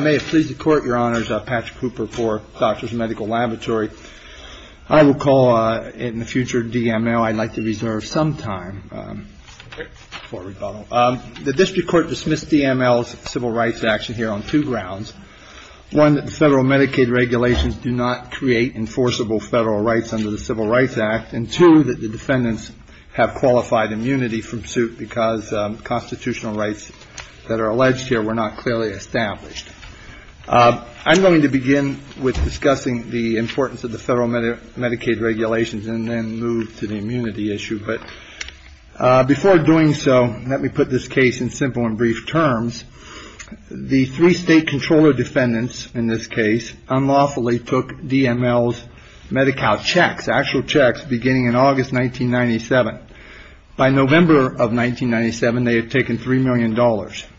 May it please the Court, Your Honors. Patrick Hooper for Doctors Medical Laboratory. I will call it in the future DML. I'd like to reserve some time for rebuttal. The District Court dismissed DML's civil rights action here on two grounds. One, that the federal Medicaid regulations do not create enforceable federal rights under the Civil Rights Act. And two, that the defendants have qualified immunity from suit because constitutional rights that are alleged here were not clearly established. I'm going to begin with discussing the importance of the federal Medicaid regulations and then move to the immunity issue. But before doing so, let me put this case in simple and brief terms. The three state controller defendants in this case unlawfully took DML's Medi-Cal checks, actual checks, beginning in August 1997. By November of 1997, they had taken $3 million.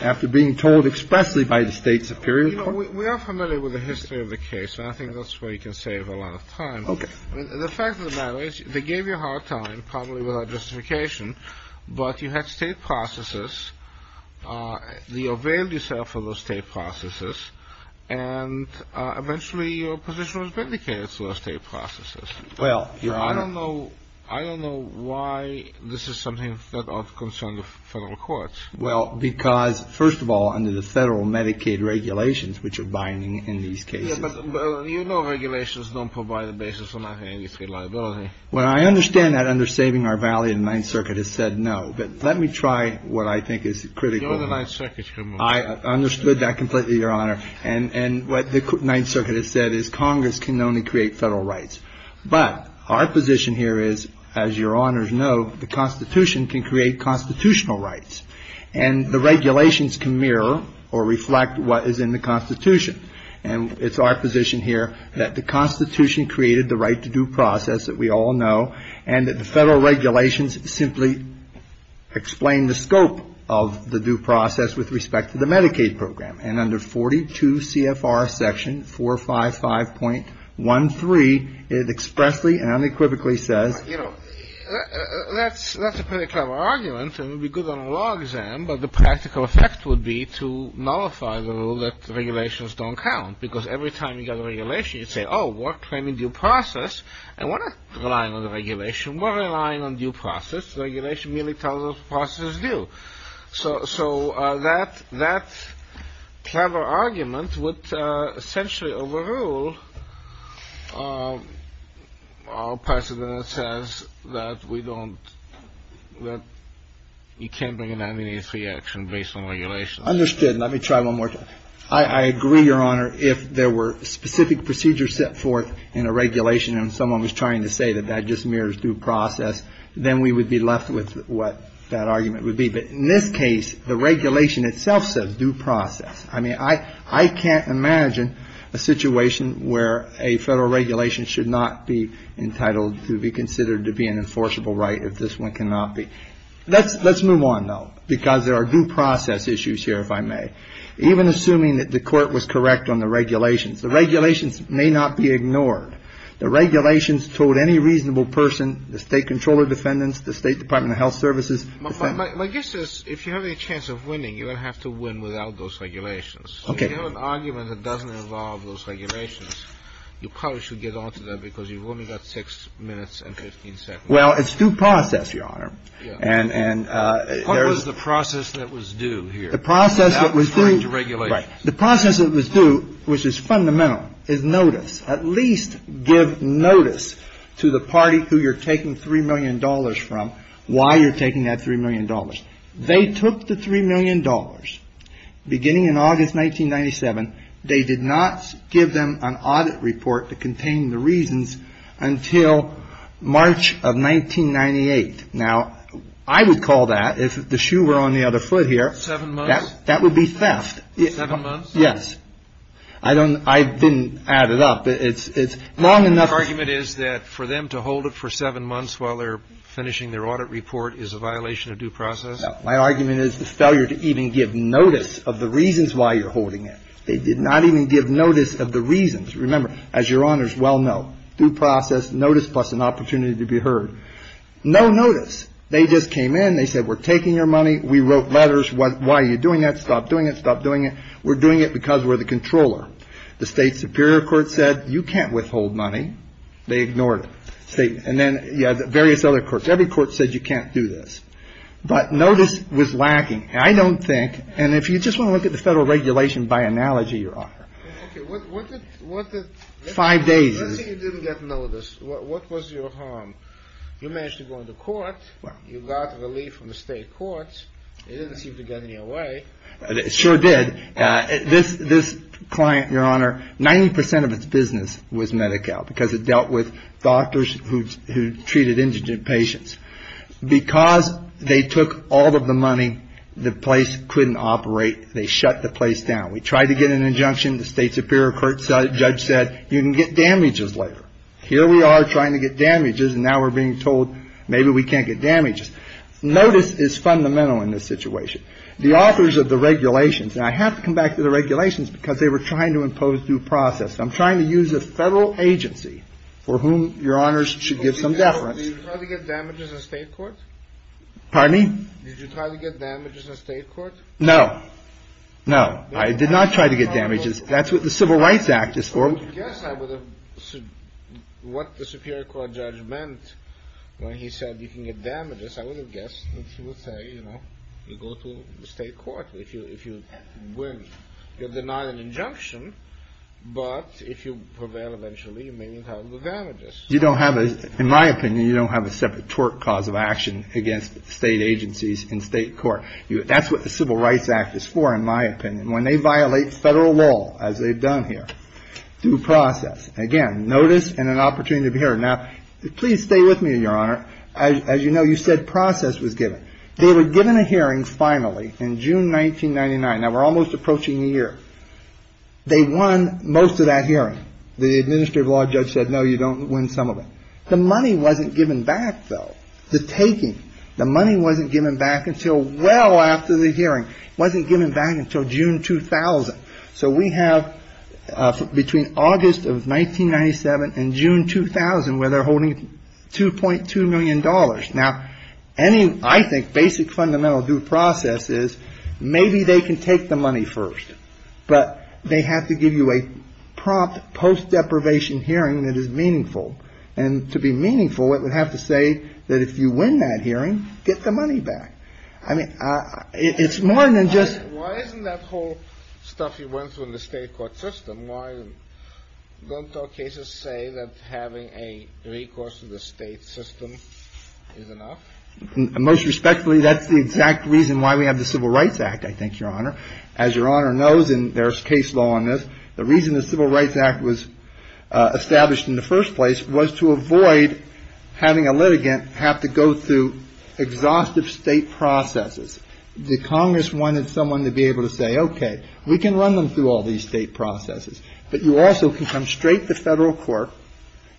After being told expressly by the State Superior Court We are familiar with the history of the case, and I think that's where you can save a lot of time. The fact of the matter is, they gave you a hard time, probably without justification, but you had state processes. You availed yourself of those state processes, and eventually your position was vindicated through those state processes. I don't know why this is something that ought to concern the federal courts. Well, because, first of all, under the federal Medicaid regulations, which are binding in these cases Yeah, but you know regulations don't provide a basis for Medicaid liability. Well, I understand that under Saving Our Valley, the Ninth Circuit has said no. But let me try what I think is critical. You're the Ninth Circuit's committee. I understood that completely, Your Honor. And what the Ninth Circuit has said is Congress can only create federal rights. But our position here is, as Your Honors know, the Constitution can create constitutional rights. And the regulations can mirror or reflect what is in the Constitution. And it's our position here that the Constitution created the right to due process that we all know, and that the federal regulations simply explain the scope of the due process with respect to the Medicaid program. And under 42 CFR section 455.13, it expressly and unequivocally says You know, that's a pretty clever argument. It would be good on a law exam, but the practical effect would be to nullify the rule that regulations don't count. Because every time you get a regulation, you say, Oh, we're claiming due process. And we're not relying on the regulation. We're relying on due process. Regulation merely tells us the process is due. So that that clever argument would essentially overrule. President says that we don't that you can't bring an amnesty action based on regulation. Understood. Let me try one more time. I agree, Your Honor, if there were specific procedures set forth in a regulation and someone was trying to say that that just mirrors due process, then we would be left with what that argument would be. But in this case, the regulation itself says due process. I mean, I I can't imagine a situation where a federal regulation should not be entitled to be considered to be an enforceable right. If this one cannot be. Let's let's move on, though, because there are due process issues here, if I may. Even assuming that the court was correct on the regulations, the regulations may not be ignored. The regulations told any reasonable person, the state controller defendants, the State Department of Health Services. My guess is if you have a chance of winning, you don't have to win without those regulations. Okay. An argument that doesn't involve those regulations. You probably should get on to that because you've only got six minutes and 15 seconds. Well, it's due process, Your Honor. And and there is the process that was due here. The process that was due to regulate. The process that was due, which is fundamental, is notice. At least give notice to the party who you're taking three million dollars from, why you're taking that three million dollars. They took the three million dollars beginning in August 1997. They did not give them an audit report to contain the reasons until March of 1998. Now, I would call that if the shoe were on the other foot here. Seven months? That would be theft. Seven months? Yes. I don't, I didn't add it up. It's long enough. The argument is that for them to hold it for seven months while they're finishing their audit report is a violation of due process? My argument is the failure to even give notice of the reasons why you're holding it. They did not even give notice of the reasons. Remember, as Your Honors well know, due process, notice, plus an opportunity to be heard. No notice. They just came in. They said we're taking your money. We wrote letters. Why are you doing that? Stop doing it. Stop doing it. We're doing it because we're the controller. The state superior court said you can't withhold money. They ignored it. And then various other courts. Every court said you can't do this. But notice was lacking. I don't think, and if you just want to look at the federal regulation by analogy, Your Honor. Okay. What did? Five days. Let's say you didn't get notice. What was your harm? You managed to go into court. You got relief from the state courts. It didn't seem to get any away. It sure did. This client, Your Honor, 90% of its business was Medi-Cal because it dealt with doctors who treated indigent patients. Because they took all of the money, the place couldn't operate. They shut the place down. We tried to get an injunction. The state superior court judge said you can get damages later. Here we are trying to get damages. And now we're being told maybe we can't get damages. Notice is fundamental in this situation. The authors of the regulations, and I have to come back to the regulations because they were trying to impose due process. I'm trying to use a federal agency for whom Your Honors should give some deference. Did you try to get damages in state court? Pardon me? Did you try to get damages in state court? No. No. I did not try to get damages. That's what the Civil Rights Act is for. I would have guessed what the superior court judge meant when he said you can get damages. I would have guessed that he would say, you know, you go to the state court. If you win, you're denied an injunction. But if you prevail eventually, you may be held with damages. You don't have a, in my opinion, you don't have a separate tort cause of action against state agencies in state court. That's what the Civil Rights Act is for, in my opinion. When they violate federal law, as they've done here, due process. Again, notice and an opportunity to be heard. Now, please stay with me, Your Honor. As you know, you said process was given. They were given a hearing finally in June 1999. Now, we're almost approaching the year. They won most of that hearing. The administrative law judge said, no, you don't win some of it. The money wasn't given back, though. The taking, the money wasn't given back until well after the hearing. It wasn't given back until June 2000. So we have between August of 1997 and June 2000 where they're holding $2.2 million. Now, any, I think, basic fundamental due process is maybe they can take the money first. But they have to give you a prompt post-deprivation hearing that is meaningful. And to be meaningful, it would have to say that if you win that hearing, get the money back. I mean, it's more than just. Why isn't that whole stuff you went through in the state court system? Why don't all cases say that having a recourse to the state system is enough? Most respectfully, that's the exact reason why we have the Civil Rights Act, I think, Your Honor. As Your Honor knows, and there's case law on this, the reason the Civil Rights Act was established in the first place was to avoid having a litigant have to go through exhaustive state processes. The Congress wanted someone to be able to say, OK, we can run them through all these state processes. But you also can come straight to federal court.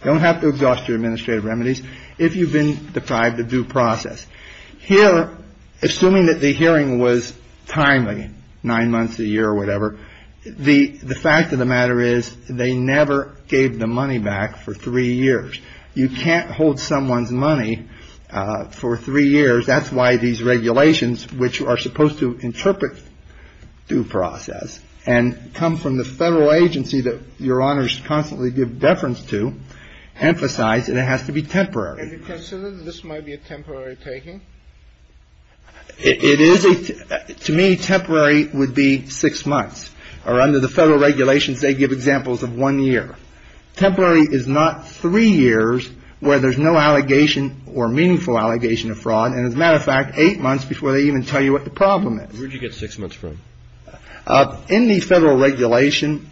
You don't have to exhaust your administrative remedies if you've been deprived of due process here. Assuming that the hearing was timely, nine months, a year or whatever. The fact of the matter is they never gave the money back for three years. You can't hold someone's money for three years. That's why these regulations, which are supposed to interpret due process and come from the federal agency that Your Honors constantly give deference to, emphasize that it has to be temporary. Have you considered that this might be a temporary taking? It is. To me, temporary would be six months. Or under the federal regulations, they give examples of one year. Temporary is not three years where there's no allegation or meaningful allegation of fraud. And as a matter of fact, eight months before they even tell you what the problem is. Where did you get six months from? In the federal regulation,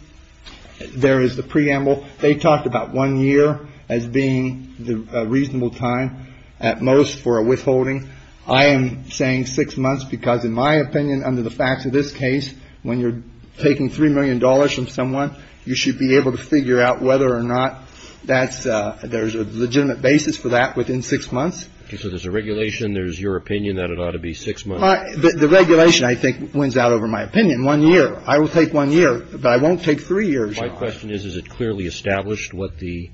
there is the preamble. They talked about one year as being a reasonable time at most for a withholding. I am saying six months because in my opinion, under the facts of this case, when you're taking $3 million from someone, you should be able to figure out whether or not that's a legitimate basis for that within six months. So there's a regulation, there's your opinion that it ought to be six months? The regulation, I think, wins out over my opinion. One year. I will take one year, but I won't take three years. My question is, is it clearly established what the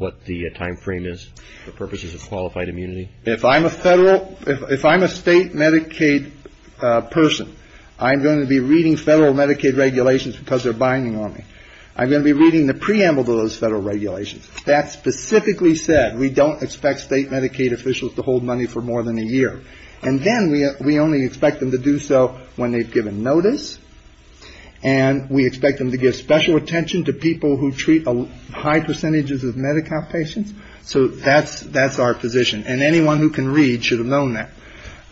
timeframe is for purposes of qualified immunity? If I'm a state Medicaid person, I'm going to be reading federal Medicaid regulations because they're binding on me. I'm going to be reading the preamble to those federal regulations. That specifically said, we don't expect state Medicaid officials to hold money for more than a year. And then we only expect them to do so when they've given notice. And we expect them to give special attention to people who treat high percentages of Medi-Cal patients. So that's our position. And anyone who can read should have known that.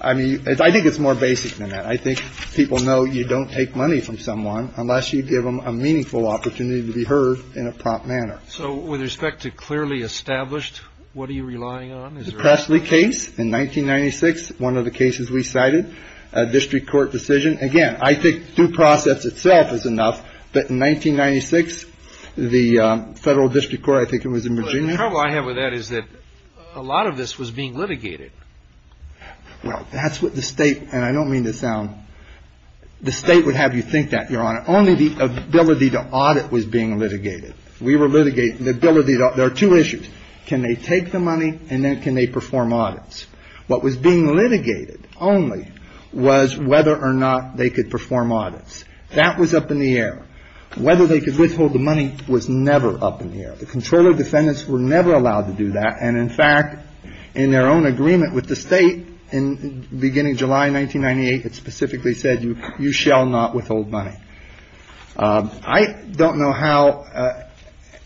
I mean, I think it's more basic than that. I think people know you don't take money from someone unless you give them a meaningful opportunity to be heard in a prompt manner. So with respect to clearly established, what are you relying on? The Pressley case in 1996, one of the cases we cited, a district court decision. Again, I think due process itself is enough. But in 1996, the federal district court, I think it was in Virginia. The trouble I have with that is that a lot of this was being litigated. Well, that's what the state, and I don't mean to sound, the state would have you think that, Your Honor. Only the ability to audit was being litigated. We were litigating the ability to audit. There are two issues. Can they take the money and then can they perform audits? What was being litigated only was whether or not they could perform audits. That was up in the air. Whether they could withhold the money was never up in the air. The controller defendants were never allowed to do that. And in fact, in their own agreement with the state in the beginning of July 1998, it specifically said, you shall not withhold money. I don't know how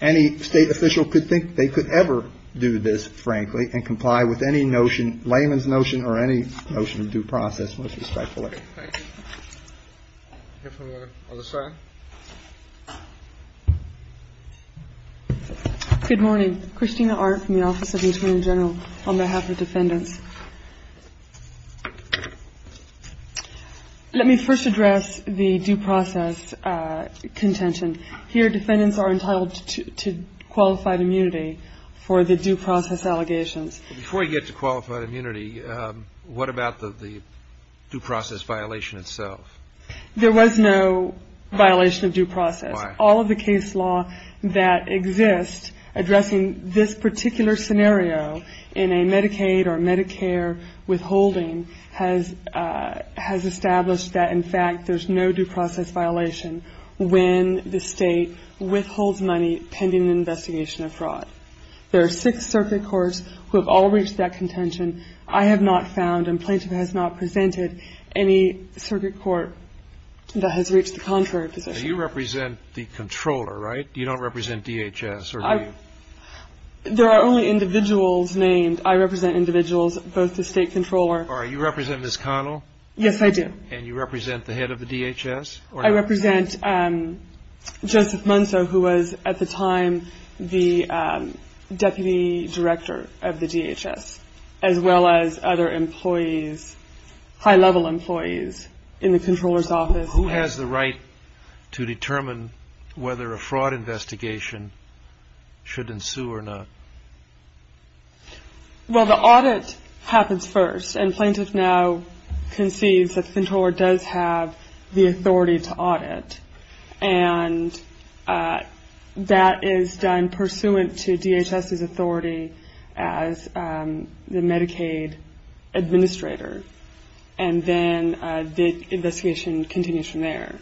any state official could think they could ever do this, frankly, and comply with any notion, layman's notion or any notion of due process, most respectfully. Thank you. I'll hear from the other side. Good morning. Christina Art from the Office of the Attorney General on behalf of defendants. Let me first address the due process contention. Here defendants are entitled to qualified immunity for the due process allegations. Before you get to qualified immunity, what about the due process violation itself? There was no violation of due process. Why? All of the case law that exists addressing this particular scenario in a Medicaid or Medicare withholding has established that, in fact, there's no due process violation when the state withholds money pending an investigation of fraud. There are six circuit courts who have all reached that contention. I have not found and plaintiff has not presented any circuit court that has reached the contrary position. You represent the controller, right? You don't represent DHS, or do you? There are only individuals named. I represent individuals, both the state controller. All right. You represent Ms. Connell? Yes, I do. And you represent the head of the DHS? I represent Joseph Munso, who was at the time the deputy director of the DHS, as well as other employees, high-level employees in the controller's office. Who has the right to determine whether a fraud investigation should ensue or not? Well, the audit happens first, and plaintiff now concedes that the controller does have the authority to audit, and that is done pursuant to DHS's authority as the Medicaid administrator, and then the investigation continues from there.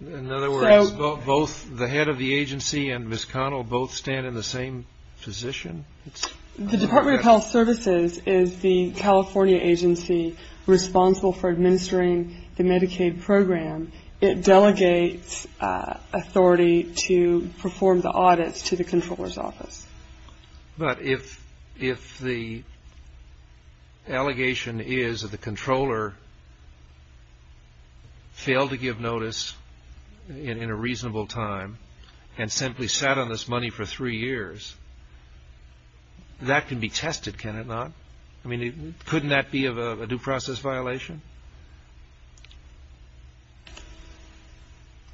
In other words, both the head of the agency and Ms. Connell both stand in the same position? The Department of Health Services is the California agency responsible for administering the Medicaid program. It delegates authority to perform the audits to the controller's office. But if the allegation is that the controller failed to give notice in a reasonable time and simply sat on this money for three years, that can be tested, can it not? I mean, couldn't that be a due process violation?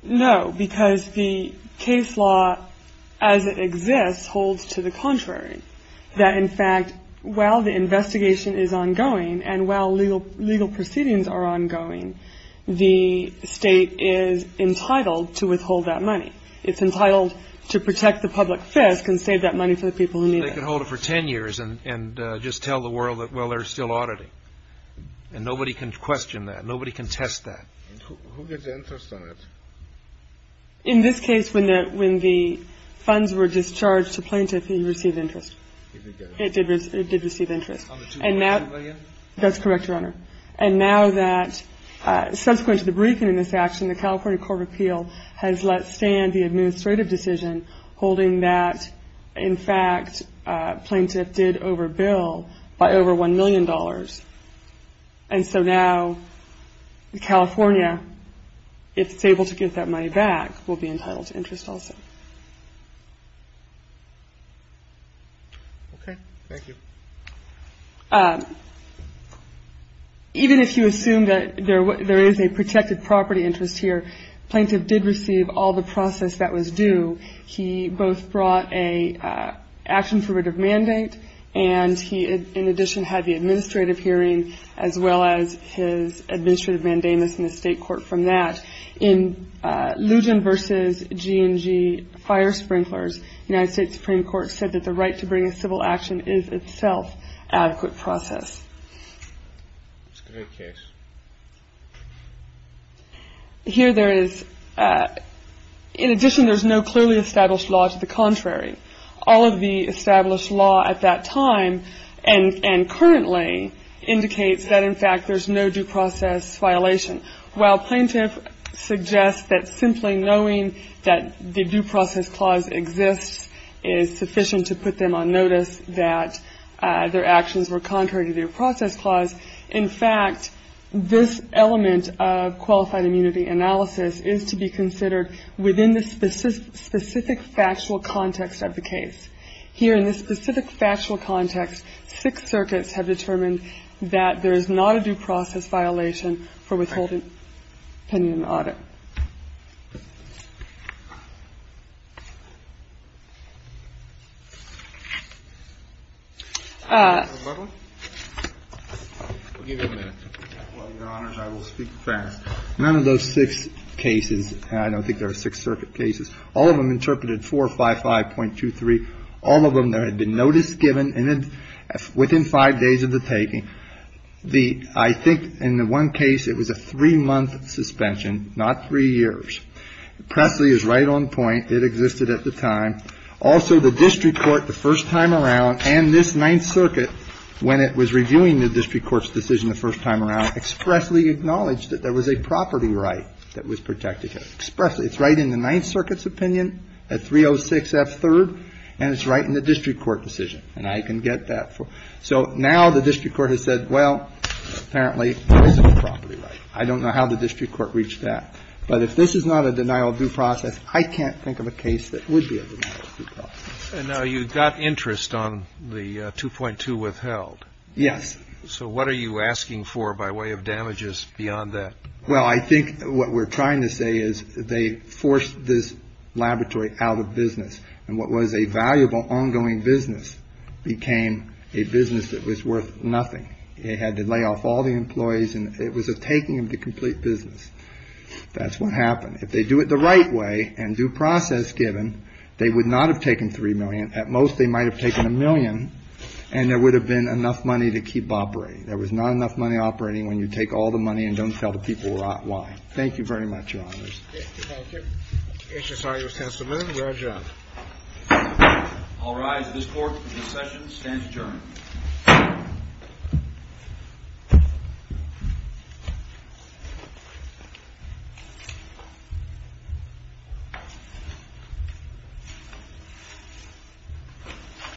No, because the case law as it exists holds to the contrary, that in fact while the investigation is ongoing and while legal proceedings are ongoing, the state is entitled to withhold that money. It's entitled to protect the public fisc and save that money for the people who need it. They can hold it for 10 years and just tell the world that, well, they're still auditing, and nobody can question that, nobody can test that. And who gets interest on it? In this case, when the funds were discharged to plaintiff, he received interest. He did get it. It did receive interest. On the $2.2 million? That's correct, Your Honor. And now that subsequent to the briefing in this action, the California Court of Appeal has let stand the administrative decision holding that in fact plaintiff did overbill by over $1 million. And so now California, if it's able to get that money back, will be entitled to interest also. Okay. Thank you. Even if you assume that there is a protected property interest here, plaintiff did receive all the process that was due. He both brought an action for writ of mandate, and he in addition had the administrative hearing as well as his administrative mandamus in the state court from that. In Lugen v. G&G Fire Sprinklers, United States Supreme Court said that the right to bring a civil action is itself adequate process. It's a great case. Here there is in addition there's no clearly established law to the contrary. All of the established law at that time and currently indicates that in fact there's no due process violation. While plaintiff suggests that simply knowing that the due process clause exists is sufficient to put them on notice that their actions were contrary to the due process clause, in fact this element of qualified immunity analysis is to be considered within the specific factual context of the case. Here in this specific factual context, six circuits have determined that there is not a due process violation for withholding pending an audit. None of those six cases, and I don't think there are six circuit cases, all of them interpreted 455.23. All of them there had been notice given within five days of the taking. I think in the one case it was a three-month suspension, not a three-month suspension, not three years. Presley is right on point. It existed at the time. Also the district court the first time around and this Ninth Circuit, when it was reviewing the district court's decision the first time around, expressly acknowledged that there was a property right that was protected. It's right in the Ninth Circuit's opinion at 306 F. 3rd, and it's right in the district court decision, and I can get that. So now the district court has said, well, apparently there is a property right. I don't know how the district court reached that. But if this is not a denial of due process, I can't think of a case that would be a denial of due process. And now you've got interest on the 2.2 withheld. Yes. So what are you asking for by way of damages beyond that? Well, I think what we're trying to say is they forced this laboratory out of business, and what was a valuable ongoing business became a business that was worth nothing. It had to lay off all the employees, and it was a taking of the complete business. That's what happened. If they do it the right way and due process given, they would not have taken 3 million. At most, they might have taken a million, and there would have been enough money to keep operating. There was not enough money operating when you take all the money and don't tell the people why. Thank you very much, Your Honors. Thank you. HSRU's testimony. We're adjourned. All rise. This court in this session stands adjourned.